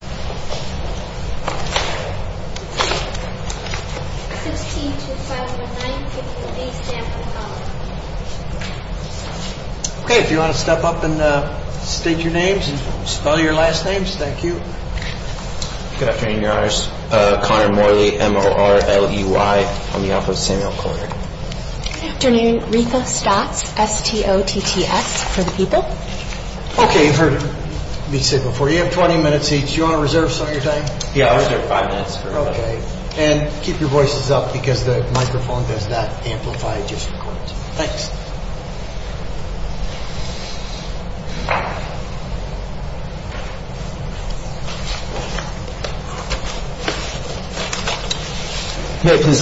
Good afternoon, your honors. Conor Morley, M-O-R-L-E-Y, on behalf of Samuel Collier. Good afternoon. Rita Stotz, S-T-O-T-T-S, for the people. Conor Morley, M-O-R-L-E-Y, on behalf of Samuel Collier. I'm happy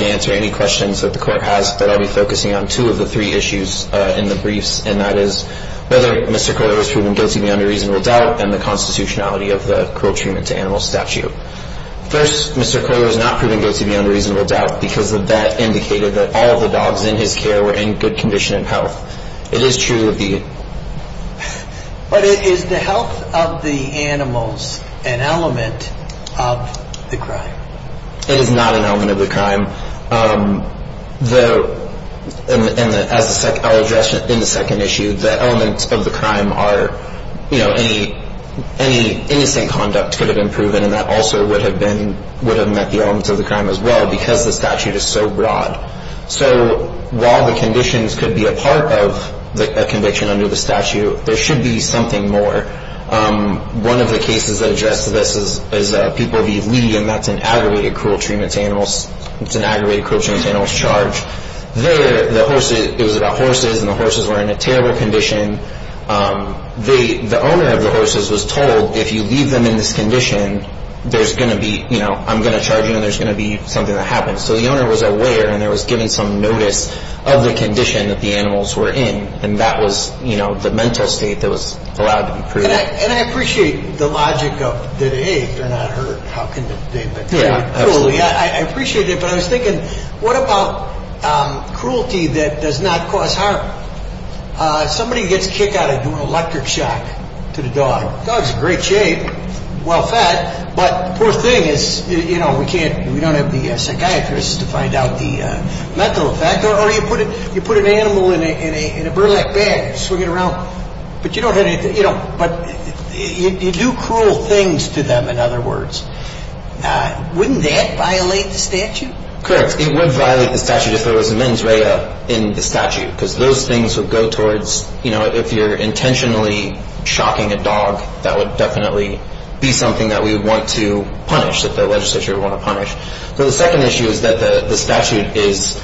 to answer any questions that the court has, but I'll be focusing on two of the three issues in the briefs, and that is whether Mr. Collier was proven guilty beyond a reasonable doubt and the constitutionality of the cruel treatment to animals statute. First, Mr. Collier was not proven guilty beyond a reasonable doubt because the vet indicated that all of the dogs in his care were in good condition and health. It is true that the... But is the health of the animals an element of the crime? It is not an element of the crime. And as I'll address in the second issue, the elements of the crime are, you know, any innocent conduct could have been proven, and that also would have met the elements of the crime as well because the statute is so broad. So while the conditions could be a part of a conviction under the statute, there should be something more. One of the cases that addressed this is people leave, and that's an aggravated cruel treatment to animals. It's an aggravated cruel treatment to animals charge. There, the horses, it was about horses, and the horses were in a terrible condition. The owner of the horses was told, if you leave them in this condition, there's going to be, you know, I'm going to charge you and there's going to be something that happens. So the owner was aware and there was given some notice of the condition that the animals were in, and that was, you know, the mental state that was allowed to be proven. And I appreciate the logic of, hey, if they're not hurt, how can they be? Yeah, absolutely. I appreciate it, but I was thinking, what about cruelty that does not cause harm? Somebody gets kicked out of doing electric shock to the dog. Dog's in great shape, well-fed, but the poor thing is, you know, we can't, we don't have the psychiatrists to find out the mental effect, or you put an animal in a burlap bag, swing it around, but you don't have anything, you know, but you do cruel things to them, in other words. Wouldn't that violate the statute? Correct. It would violate the statute if there was a mens rea in the statute, because those things would go towards, you know, if you're intentionally shocking a dog, that would definitely be something that we would want to punish, that the legislature would want to punish. So the second issue is that the statute is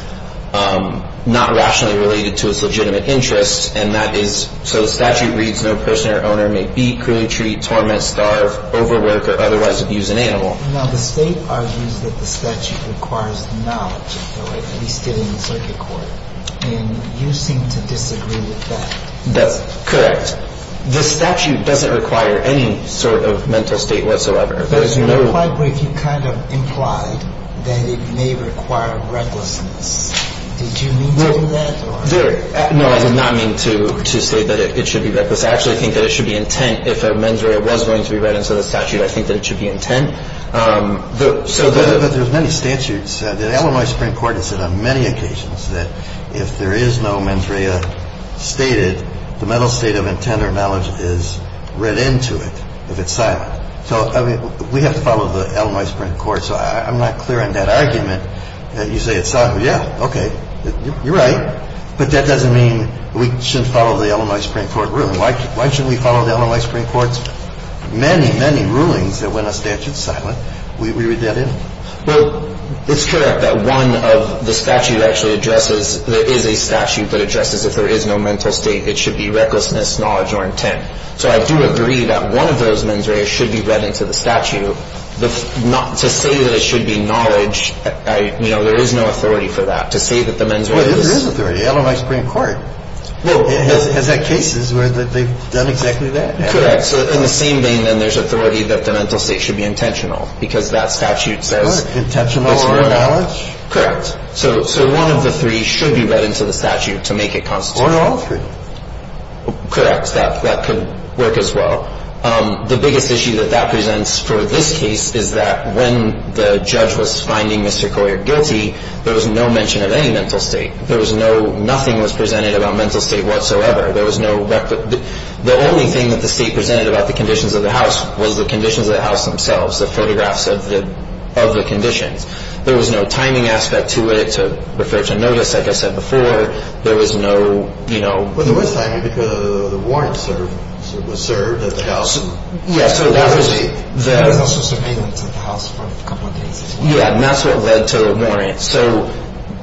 not rationally related to its legitimate interest, and that is, so the statute reads, no person or owner may beat, cruelly treat, torment, starve, overwork, or otherwise abuse an animal. Now, the state argues that the statute requires knowledge, at least in the circuit court, and you seem to disagree with that. That's correct. The statute doesn't require any sort of mental state whatsoever. But quite briefly, you kind of implied that it may require recklessness. Did you mean to do that? No, I did not mean to say that it should be reckless. I actually think that it should be intent. If a mens rea was going to be read into the statute, I think that it should be intent. But there's many statutes. The Illinois Supreme Court has said on many occasions that if there is no mens rea stated, the mental state of intent or knowledge is read into it if it's silent. So, I mean, we have to follow the Illinois Supreme Court. So I'm not clear on that argument that you say it's silent. Yeah, okay. You're right. But that doesn't mean we shouldn't follow the Illinois Supreme Court ruling. Why shouldn't we follow the Illinois Supreme Court's many, many rulings that when a statute's silent, we read that in? Well, it's correct that one of the statute actually addresses, there is a statute that addresses if there is no mental state, it should be recklessness, knowledge, or intent. So I do agree that one of those mens rea should be read into the statute. To say that it should be knowledge, you know, there is no authority for that. To say that the mens rea is. Well, there is authority. Illinois Supreme Court has had cases where they've done exactly that. Correct. So in the same vein, then, there's authority that the mental state should be intentional, because that statute says. Intentional or knowledge. Correct. So one of the three should be read into the statute to make it constitutional. Or all three. Correct. I would like to ask a question. Well, there are a number of reasons why that could work. First, that could work as well. The biggest issue that that presents for this case is that when the judge was finding Mr. Coyer guilty, there was no mention of any mental state. There was no, nothing was presented about mental state whatsoever. There was no. The only thing that the state presented about the conditions of the house was the conditions of the house themselves, the photographs of the conditions. There was no timing aspect to it, to refer to notice, like I said before. There was no, you know. Well, there was timing because the warrant was served at the house. Yeah, so that was the. There was also surveillance of the house for a couple of days as well. Yeah, and that's what led to the warrant. So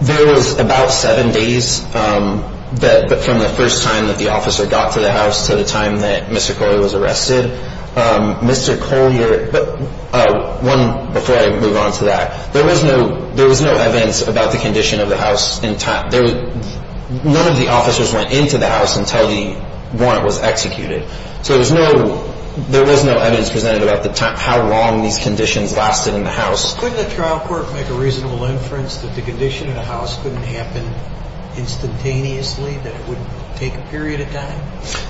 there was about seven days from the first time that the officer got to the house to the time that Mr. Coyer was arrested. Mr. Coyer. But one, before I move on to that, there was no, there was no evidence about the condition of the house in time. None of the officers went into the house until the warrant was executed. So there was no, there was no evidence presented about the time, how long these conditions lasted in the house. Couldn't the trial court make a reasonable inference that the condition of the house couldn't happen instantaneously, that it wouldn't take a period of time?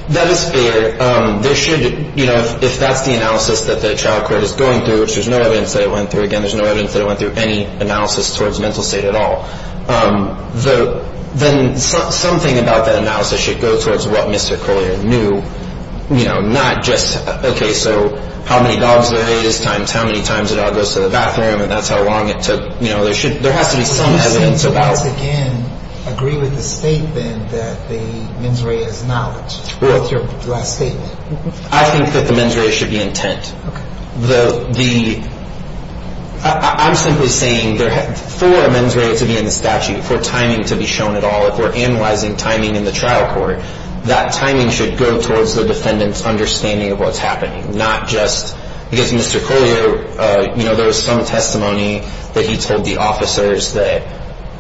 That is fair. There should, you know, if that's the analysis that the trial court is going through, which there's no evidence that it went through. Again, there's no evidence that it went through any analysis towards mental state at all. Then something about that analysis should go towards what Mr. Coyer knew. You know, not just, okay, so how many dogs there is, times how many times a dog goes to the bathroom, and that's how long it took. You know, there should, there has to be some evidence about. Do you once again agree with the statement that the mens rea is knowledge? What's your last statement? I think that the mens rea should be intent. Okay. The, the, I'm simply saying there, for a mens rea to be in the statute, for timing to be shown at all, if we're analyzing timing in the trial court, that timing should go towards the defendant's understanding of what's happening, because Mr. Coyer, you know, there was some testimony that he told the officers that,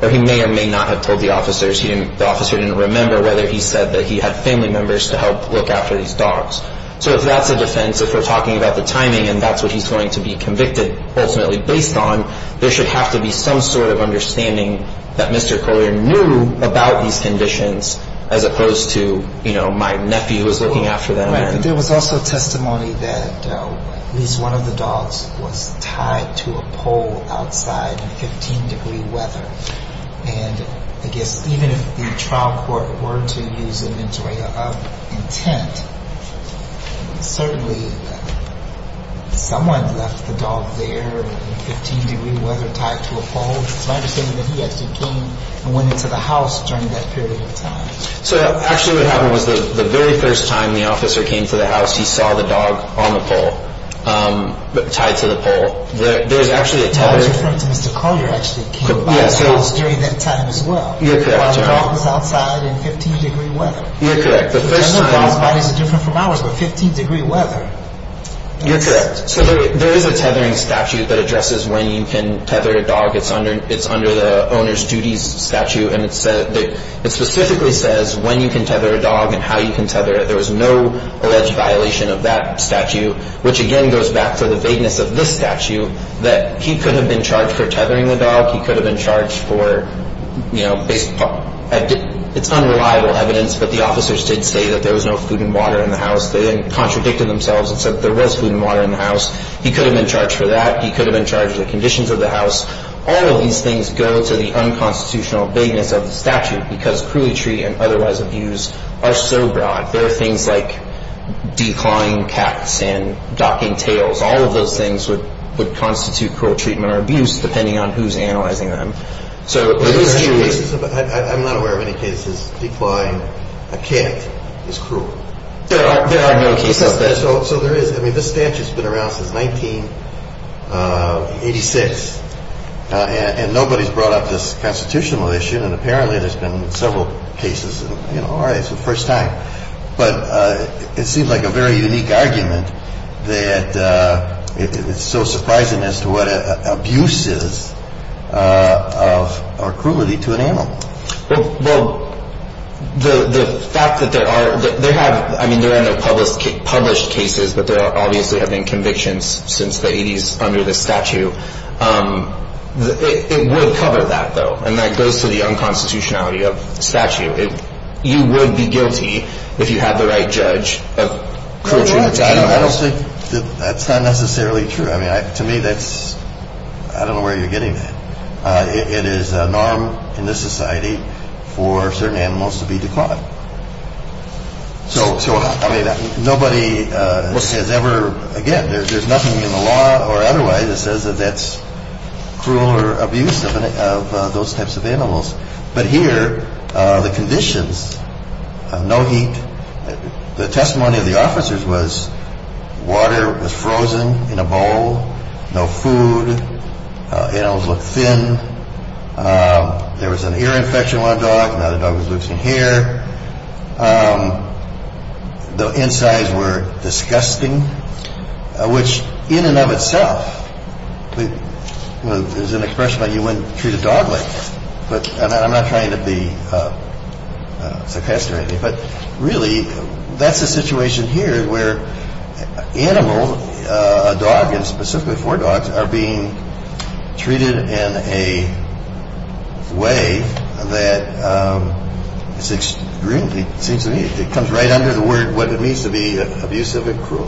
or he may or may not have told the officers. He didn't, the officer didn't remember whether he said that he had family members to help look after these dogs. So if that's a defense, if we're talking about the timing and that's what he's going to be convicted ultimately based on, there should have to be some sort of understanding that Mr. Coyer knew about these conditions, as opposed to, you know, my nephew was looking after them. Right. But there was also testimony that at least one of the dogs was tied to a pole outside in 15-degree weather. And I guess even if the trial court were to use a mens rea of intent, certainly someone left the dog there in 15-degree weather tied to a pole. It's my understanding that he actually came and went into the house during that period of time. So actually what happened was that the very first time the officer came to the house, he saw the dog on the pole tied to the pole. There's actually a tether. I was referring to Mr. Coyer actually came by the house during that time as well. You're correct, Your Honor. While the dog was outside in 15-degree weather. You're correct. I know his body is different from ours, but 15-degree weather. You're correct. So there is a tethering statute that addresses when you can tether a dog. It's under the owner's duties statute. And it specifically says when you can tether a dog and how you can tether it. There was no alleged violation of that statute, which again goes back to the vagueness of this statute, that he could have been charged for tethering the dog. He could have been charged for, you know, it's unreliable evidence, but the officers did say that there was no food and water in the house. They contradicted themselves and said there was food and water in the house. He could have been charged for that. He could have been charged with the conditions of the house. All of these things go to the unconstitutional vagueness of the statute because cruelty and otherwise abuse are so broad. There are things like declawing cats and docking tails. All of those things would constitute cruel treatment or abuse depending on who's analyzing them. So it is true. I'm not aware of any cases declawing a cat is cruel. There are no cases of that. So there is. I mean, this statute's been around since 1986, and nobody's brought up this constitutional issue, and apparently there's been several cases. All right, it's the first time. But it seems like a very unique argument that it's so surprising as to what abuse is or cruelty to an animal. Well, the fact that there are no published cases, but there obviously have been convictions since the 80s under the statute, it would cover that, though, and that goes to the unconstitutionality of the statute. You would be guilty if you had the right judge of cruelty to animals. That's not necessarily true. I mean, to me, that's – I don't know where you're getting that. It is a norm in this society for certain animals to be declawed. So, I mean, nobody has ever – again, there's nothing in the law or otherwise that says that that's cruel or abusive of those types of animals. But here, the conditions – no heat. The testimony of the officers was water was frozen in a bowl. No food. Animals looked thin. There was an ear infection on a dog. Now the dog was losing hair. The insides were disgusting, which in and of itself is an expression that you wouldn't treat a dog like. But I'm not trying to be – I don't know, sarcastic or anything. But really, that's the situation here where animal, a dog, and specifically four dogs, are being treated in a way that is extremely – it comes right under the word what it means to be abusive and cruel.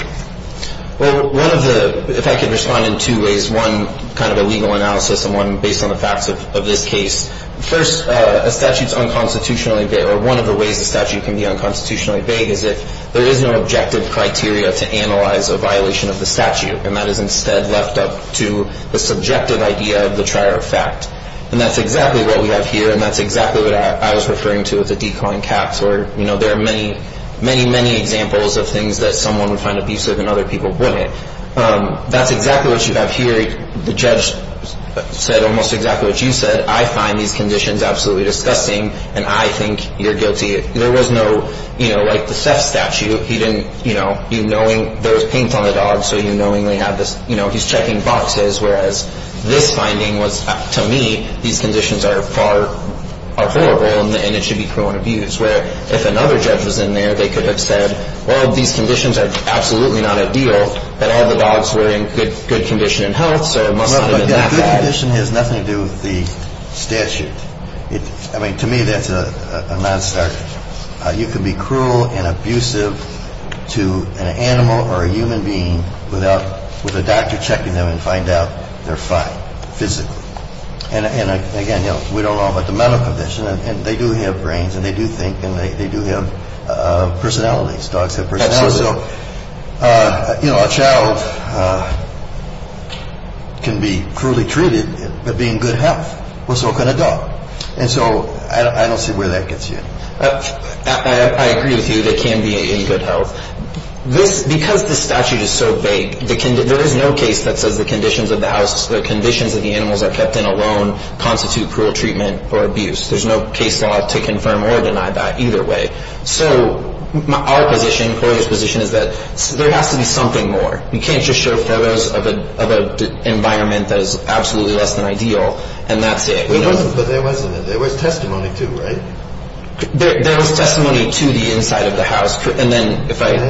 Well, one of the – if I could respond in two ways. One, kind of a legal analysis, and one based on the facts of this case. First, a statute is unconstitutionally – or one of the ways a statute can be unconstitutionally vague is if there is no objective criteria to analyze a violation of the statute, and that is instead left up to the subjective idea of the trier of fact. And that's exactly what we have here, and that's exactly what I was referring to with the declawing caps, where there are many, many, many examples of things that someone would find abusive and other people wouldn't. That's exactly what you have here. The judge said almost exactly what you said. He said, I find these conditions absolutely disgusting, and I think you're guilty. There was no – you know, like the Seth statute, he didn't – you know, there was paint on the dog, so you knowingly had this – you know, he's checking boxes, whereas this finding was, to me, these conditions are horrible, and it should be cruel and abused. Where if another judge was in there, they could have said, well, these conditions are absolutely not ideal, but all the dogs were in good condition and health, so it must have been that bad. A good condition has nothing to do with the statute. I mean, to me, that's a non-starter. You can be cruel and abusive to an animal or a human being without – with a doctor checking them and find out they're fine physically. And again, you know, we don't know about the mental condition, and they do have brains and they do think and they do have personalities. Dogs have personalities. Absolutely. So, you know, a child can be cruelly treated, but be in good health. What's wrong with a dog? And so I don't see where that gets you. I agree with you. They can be in good health. This – because this statute is so vague, there is no case that says the conditions of the house, the conditions that the animals are kept in alone constitute cruel treatment or abuse. There's no case law to confirm or deny that either way. So our position, Corey's position, is that there has to be something more. You can't just show photos of an environment that is absolutely less than ideal, and that's it. But there wasn't. There was testimony too, right? There was testimony to the inside of the house. And then if I – And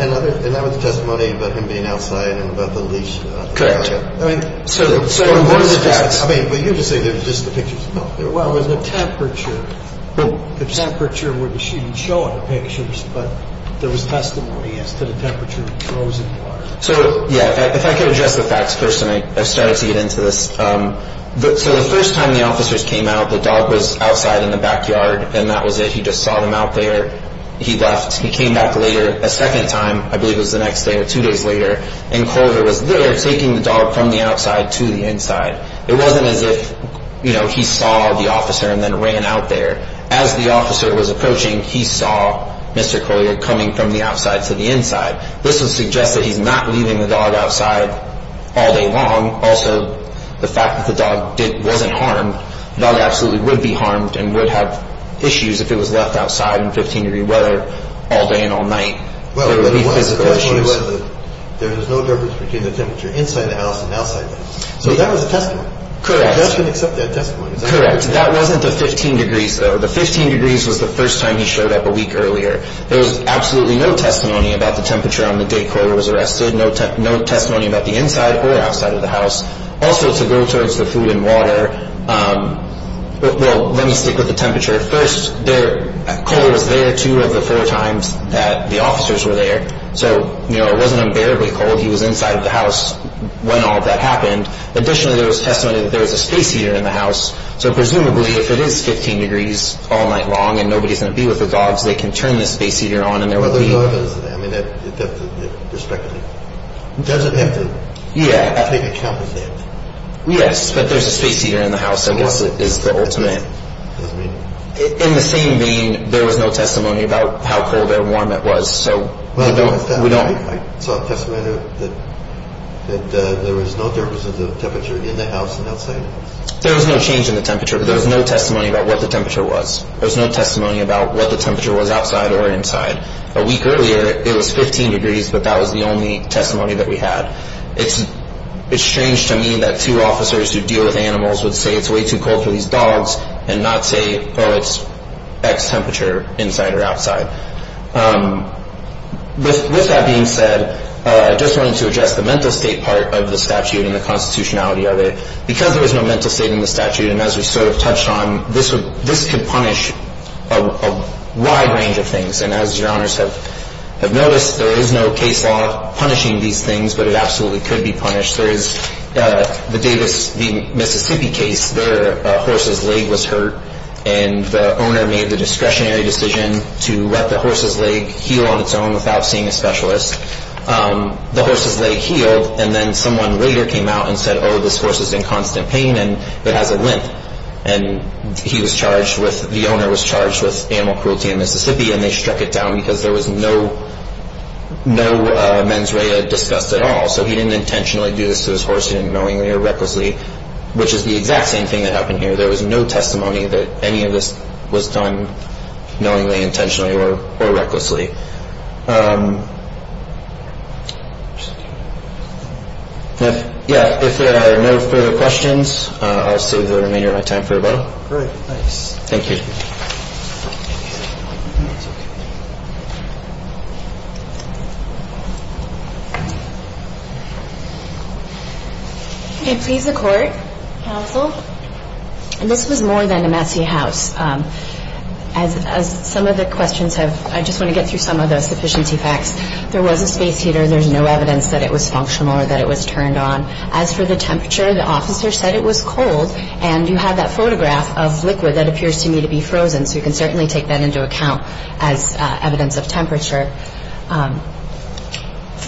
that was testimony about him being outside and about the leash. Correct. I mean – So what is it that – I mean, but you're just saying it was just the pictures. No. Well, it was the temperature. The temperature was shown in the pictures, but there was testimony as to the temperature of the frozen water. So, yeah, if I could address the facts first, and I started to get into this. So the first time the officers came out, the dog was outside in the backyard, and that was it. He just saw them out there. He left. He came back later a second time, I believe it was the next day or two days later, and Corey was there taking the dog from the outside to the inside. It wasn't as if, you know, he saw the officer and then ran out there. As the officer was approaching, he saw Mr. Coley coming from the outside to the inside. This would suggest that he's not leaving the dog outside all day long. Also, the fact that the dog wasn't harmed, the dog absolutely would be harmed and would have issues if it was left outside in 15-degree weather all day and all night. There would be physical issues. Well, he wanted to go outside in the weather. There was no difference between the temperature inside the house and outside the house. So that was a testimony. Correct. The judge didn't accept that testimony. Correct. That wasn't the 15 degrees, though. The 15 degrees was the first time he showed up a week earlier. There was absolutely no testimony about the temperature on the day Corey was arrested, no testimony about the inside or outside of the house. Also, to go towards the food and water, well, let me stick with the temperature. First, Coley was there two of the four times that the officers were there, so, you know, it wasn't unbearably cold. He was inside the house when all of that happened. Additionally, there was testimony that there was a space heater in the house, so presumably if it is 15 degrees all night long and nobody's going to be with the dogs, they can turn the space heater on and there will be— Well, the dog is—I mean, that's a different perspective. It doesn't have to take account of that. Yes, but there's a space heater in the house, I guess, is the ultimate— In the same vein, there was no testimony about how cold or warm it was. So we don't— I saw testimony that there was no difference in the temperature in the house and outside. There was no change in the temperature, but there was no testimony about what the temperature was. There was no testimony about what the temperature was outside or inside. A week earlier, it was 15 degrees, but that was the only testimony that we had. It's strange to me that two officers who deal with animals would say it's way too cold for these dogs and not say, well, it's X temperature inside or outside. With that being said, I just wanted to address the mental state part of the statute and the constitutionality of it. Because there was no mental state in the statute, and as we sort of touched on, this could punish a wide range of things. And as Your Honors have noticed, there is no case law punishing these things, but it absolutely could be punished. There is the Davis v. Mississippi case, their horse's leg was hurt and the owner made the discretionary decision to let the horse's leg heal on its own without seeing a specialist. The horse's leg healed, and then someone later came out and said, oh, this horse is in constant pain and it has a lint. And he was charged with—the owner was charged with animal cruelty in Mississippi, and they struck it down because there was no mens rea discussed at all. So he didn't intentionally do this to his horse. He didn't knowingly or recklessly, which is the exact same thing that happened here. There was no testimony that any of this was done knowingly, intentionally, or recklessly. Yeah, if there are no further questions, I'll save the remainder of my time for rebuttal. Great, thanks. Thank you. Thank you. Okay, please, the court. Counsel. This was more than a messy house. As some of the questions have—I just want to get through some of the sufficiency facts. There was a space heater. There's no evidence that it was functional or that it was turned on. As for the temperature, the officer said it was cold, and you have that photograph of liquid that appears to me to be frozen, so you can certainly take that into account as evidence of temperature.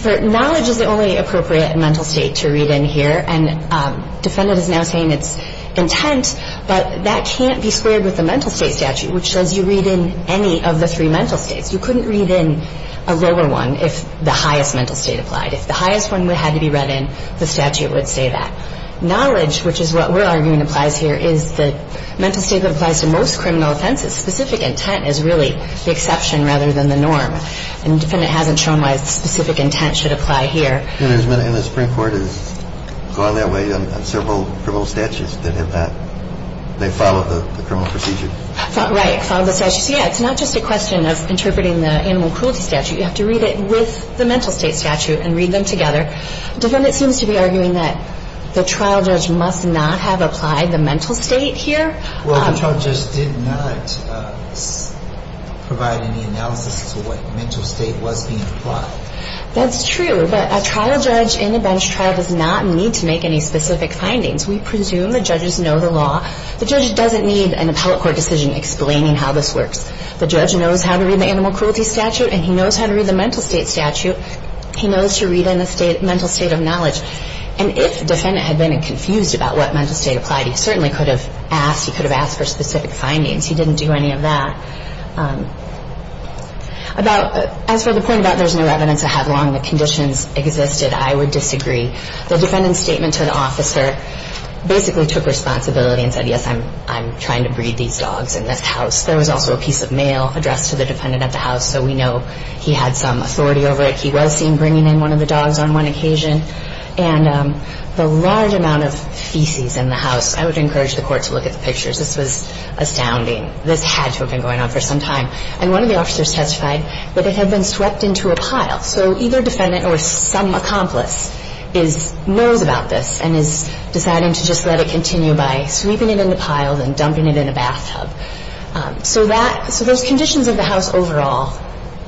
Knowledge is the only appropriate mental state to read in here, and the defendant is now saying it's intent, but that can't be squared with the mental state statute, which says you read in any of the three mental states. You couldn't read in a lower one if the highest mental state applied. If the highest one had to be read in, the statute would say that. Knowledge, which is what we're arguing applies here, is the mental state that applies to most criminal offenses. Specific intent is really the exception rather than the norm, and the defendant hasn't shown why specific intent should apply here. And the Supreme Court is going that way on several criminal statutes that have not—they follow the criminal procedure. Right, follow the statute. So, yeah, it's not just a question of interpreting the animal cruelty statute. You have to read it with the mental state statute and read them together. The defendant seems to be arguing that the trial judge must not have applied the mental state here. Well, the trial judge did not provide any analysis to what mental state was being applied. That's true, but a trial judge in a bench trial does not need to make any specific findings. We presume the judges know the law. The judge doesn't need an appellate court decision explaining how this works. The judge knows how to read the animal cruelty statute, and he knows how to read the mental state statute. He knows to read in the mental state of knowledge. And if the defendant had been confused about what mental state applied, he certainly could have asked. He could have asked for specific findings. He didn't do any of that. About—as for the point about there's no evidence to have long the conditions existed, I would disagree. The defendant's statement to the officer basically took responsibility and said, yes, I'm trying to breed these dogs in this house. There was also a piece of mail addressed to the defendant at the house, so we know he had some authority over it. He was seen bringing in one of the dogs on one occasion. And the large amount of feces in the house, I would encourage the court to look at the pictures. This was astounding. This had to have been going on for some time. And one of the officers testified that it had been swept into a pile. So either defendant or some accomplice knows about this and is deciding to just let it continue by sweeping it into piles and dumping it in a bathtub. So that—so those conditions of the house overall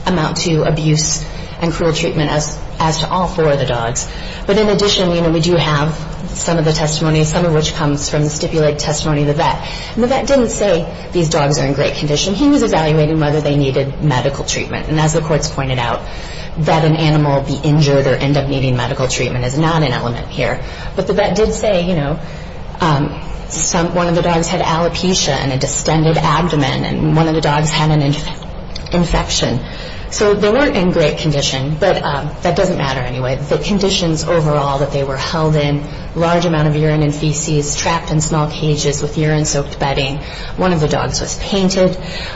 amount to abuse and cruel treatment as to all four of the dogs. But in addition, you know, we do have some of the testimony, some of which comes from the stipulated testimony of the vet. And the vet didn't say these dogs are in great condition. He was evaluating whether they needed medical treatment. And as the courts pointed out, that an animal be injured or end up needing medical treatment is not an element here. But the vet did say, you know, one of the dogs had alopecia and a distended abdomen. And one of the dogs had an infection. So they weren't in great condition. But that doesn't matter anyway. The conditions overall that they were held in, large amount of urine and feces trapped in small cages with urine-soaked bedding. One of the dogs was painted.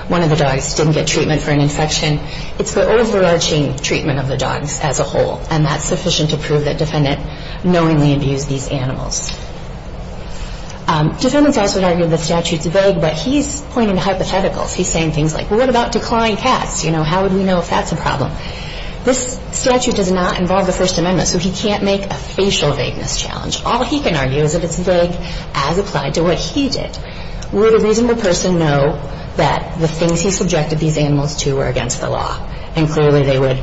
One of the dogs didn't get treatment for an infection. It's the overarching treatment of the dogs as a whole. And that's sufficient to prove that defendant knowingly abused these animals. Defendants also would argue the statute's vague. But he's pointing to hypotheticals. He's saying things like, what about declawing cats? You know, how would we know if that's a problem? This statute does not involve the First Amendment. So he can't make a facial vagueness challenge. All he can argue is that it's vague as applied to what he did. Would a reasonable person know that the things he subjected these animals to were against the law? And clearly they would.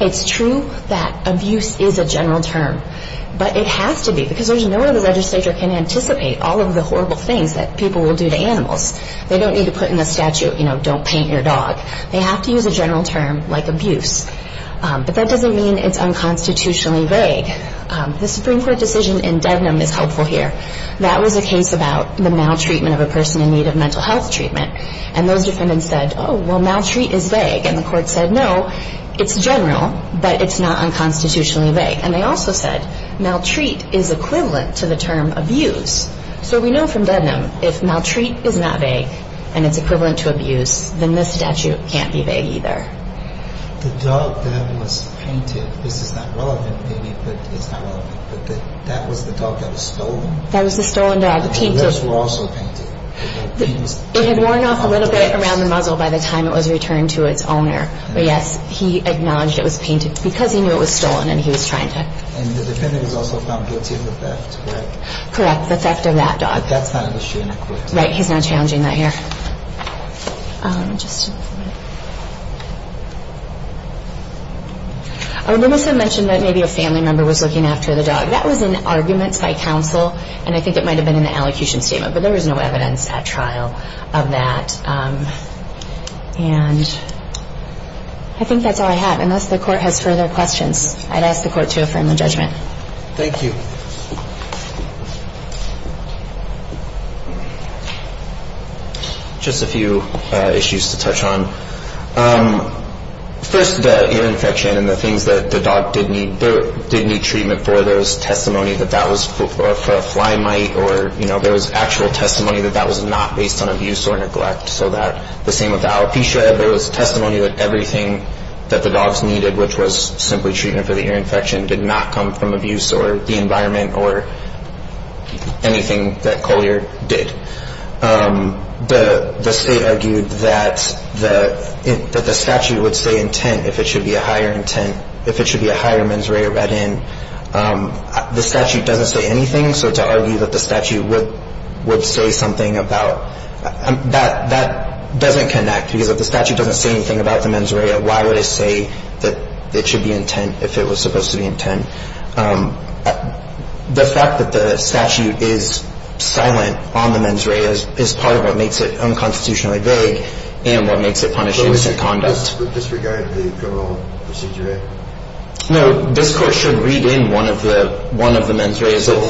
It's true that abuse is a general term. But it has to be, because there's no way the legislature can anticipate all of the horrible things that people will do to animals. They don't need to put in the statute, you know, don't paint your dog. They have to use a general term like abuse. But that doesn't mean it's unconstitutionally vague. The Supreme Court decision in Dednam is helpful here. That was a case about the maltreatment of a person in need of mental health treatment. And those defendants said, oh, well, maltreat is vague. And the court said, no, it's general, but it's not unconstitutionally vague. And they also said maltreat is equivalent to the term abuse. So we know from Dednam if maltreat is not vague and it's equivalent to abuse, then this statute can't be vague either. The dog that was painted, this is not relevant, Amy, but it's not relevant, but that was the dog that was stolen. That was the stolen dog. The rest were also painted. It had worn off a little bit around the muzzle by the time it was returned to its owner. But, yes, he acknowledged it was painted because he knew it was stolen and he was trying to. And the defendant has also found guilty of the theft, right? Correct, the theft of that dog. But that's not a misdemeanor, correct? Right, he's not challenging that here. Just a minute. Our witness had mentioned that maybe a family member was looking after the dog. That was in arguments by counsel, and I think it might have been in the allocution statement, but there was no evidence at trial of that. And I think that's all I have. Unless the court has further questions, I'd ask the court to affirm the judgment. Thank you. Just a few issues to touch on. First, the ear infection and the things that the dog did need treatment for. There was testimony that that was for a fly mite, or there was actual testimony that that was not based on abuse or neglect. So the same with the alopecia, there was testimony that everything that the dogs needed, which was simply treatment for the ear infection, did not come from abuse or the environment or anything that Coley did. The state argued that the statute would say intent if it should be a higher intent, if it should be a higher mens rea or vet in. The statute doesn't say anything, so to argue that the statute would say something about that, that doesn't connect, because if the statute doesn't say anything about the mens rea, why would it say that it should be intent if it was supposed to be intent? The fact that the statute is silent on the mens rea is part of what makes it unconstitutionally vague and what makes it punish innocent conduct. Would this regard the criminal procedure act? No, this Court should read in one of the mens reas. So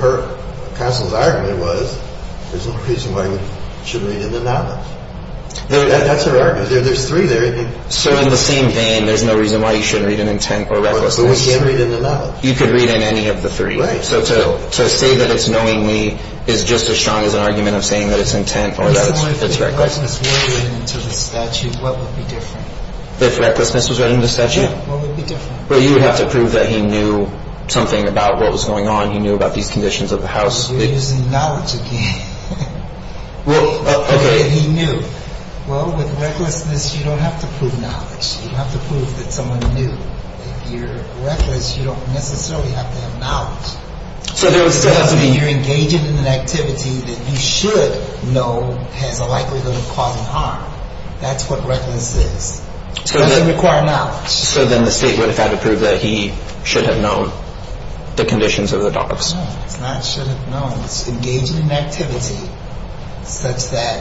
her counsel's argument was there's no reason why you shouldn't read in the noneth. That's her argument. There's three there. So in the same vein, there's no reason why you shouldn't read in intent or recklessness. But we can read in the noneth. You could read in any of the three. Right. So to say that it's knowingly is just as strong as an argument of saying that it's intent or that it's reckless. If recklessness were written into the statute, what would be different? If recklessness was written into the statute? What would be different? Well, you would have to prove that he knew something about what was going on. He knew about these conditions of the house. You're using knowledge again. Well, okay. He knew. Well, with recklessness, you don't have to prove knowledge. You don't have to prove that someone knew. If you're reckless, you don't necessarily have to have knowledge. So there still has to be. You're engaging in an activity that you should know has a likelihood of causing harm. That's what recklessness is. It doesn't require knowledge. So then the state would have had to prove that he should have known the conditions of the dogs. No, it's not should have known. It's engaging in activity such that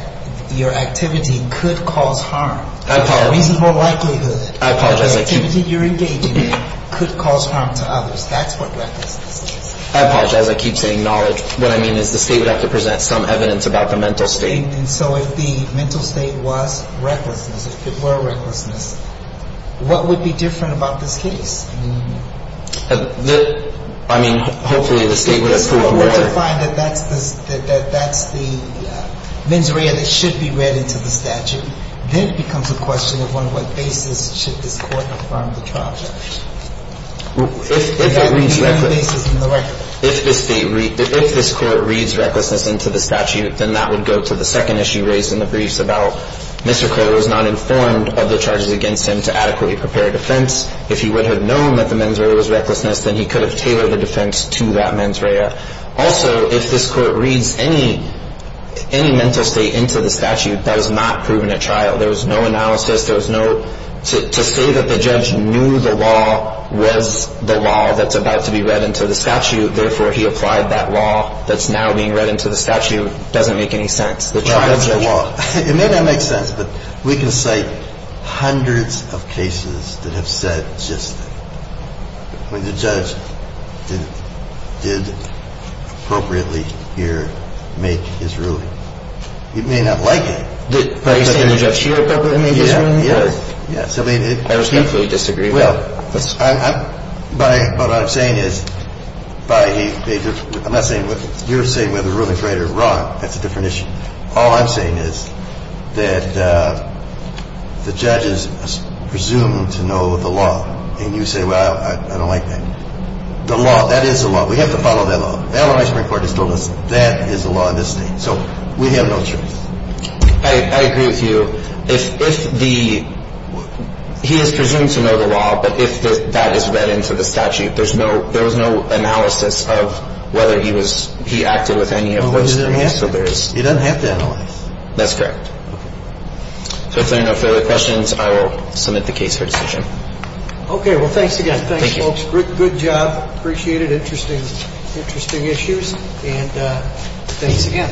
your activity could cause harm. I apologize. With a reasonable likelihood. I apologize. The activity you're engaging in could cause harm to others. That's what recklessness is. I apologize. I keep saying knowledge. What I mean is the state would have to present some evidence about the mental state. And so if the mental state was recklessness, if it were recklessness, what would be different about this case? I mean, hopefully the state would have proved that. If the court were to find that that's the mens rea that should be read into the statute, then it becomes a question of on what basis should this court affirm the charge. If it reads recklessness. On what basis from the record. If this court reads recklessness into the statute, then that would go to the second issue raised in the briefs about Mr. Crow was not informed of the charges against him to adequately prepare a defense. If he would have known that the mens rea was recklessness, then he could have tailored the defense to that mens rea. Also, if this court reads any mental state into the statute, that is not proven at trial. There was no analysis. To say that the judge knew the law was the law that's about to be read into the statute, therefore he applied that law that's now being read into the statute, doesn't make any sense. It may not make sense, but we can cite hundreds of cases that have said just when the judge did appropriately here make his ruling. He may not like it. I respectfully disagree with that. What I'm saying is, you're saying whether Ruben's right or wrong, that's a different issue. All I'm saying is that the judge is presumed to know the law. And you say, well, I don't like that. The law, that is the law. We have to follow that law. That's what my Supreme Court has told us. That is the law in this state. So we have no choice. I agree with you. If the, he is presumed to know the law, but if that is read into the statute, there's no, there was no analysis of whether he was, he acted with any of those. He doesn't have to analyze. That's correct. So if there are no further questions, I will submit the case for decision. Okay, well, thanks again. Thanks, folks. Good job. Appreciate it. Interesting, interesting issues. And thanks again. Thank you. All rise.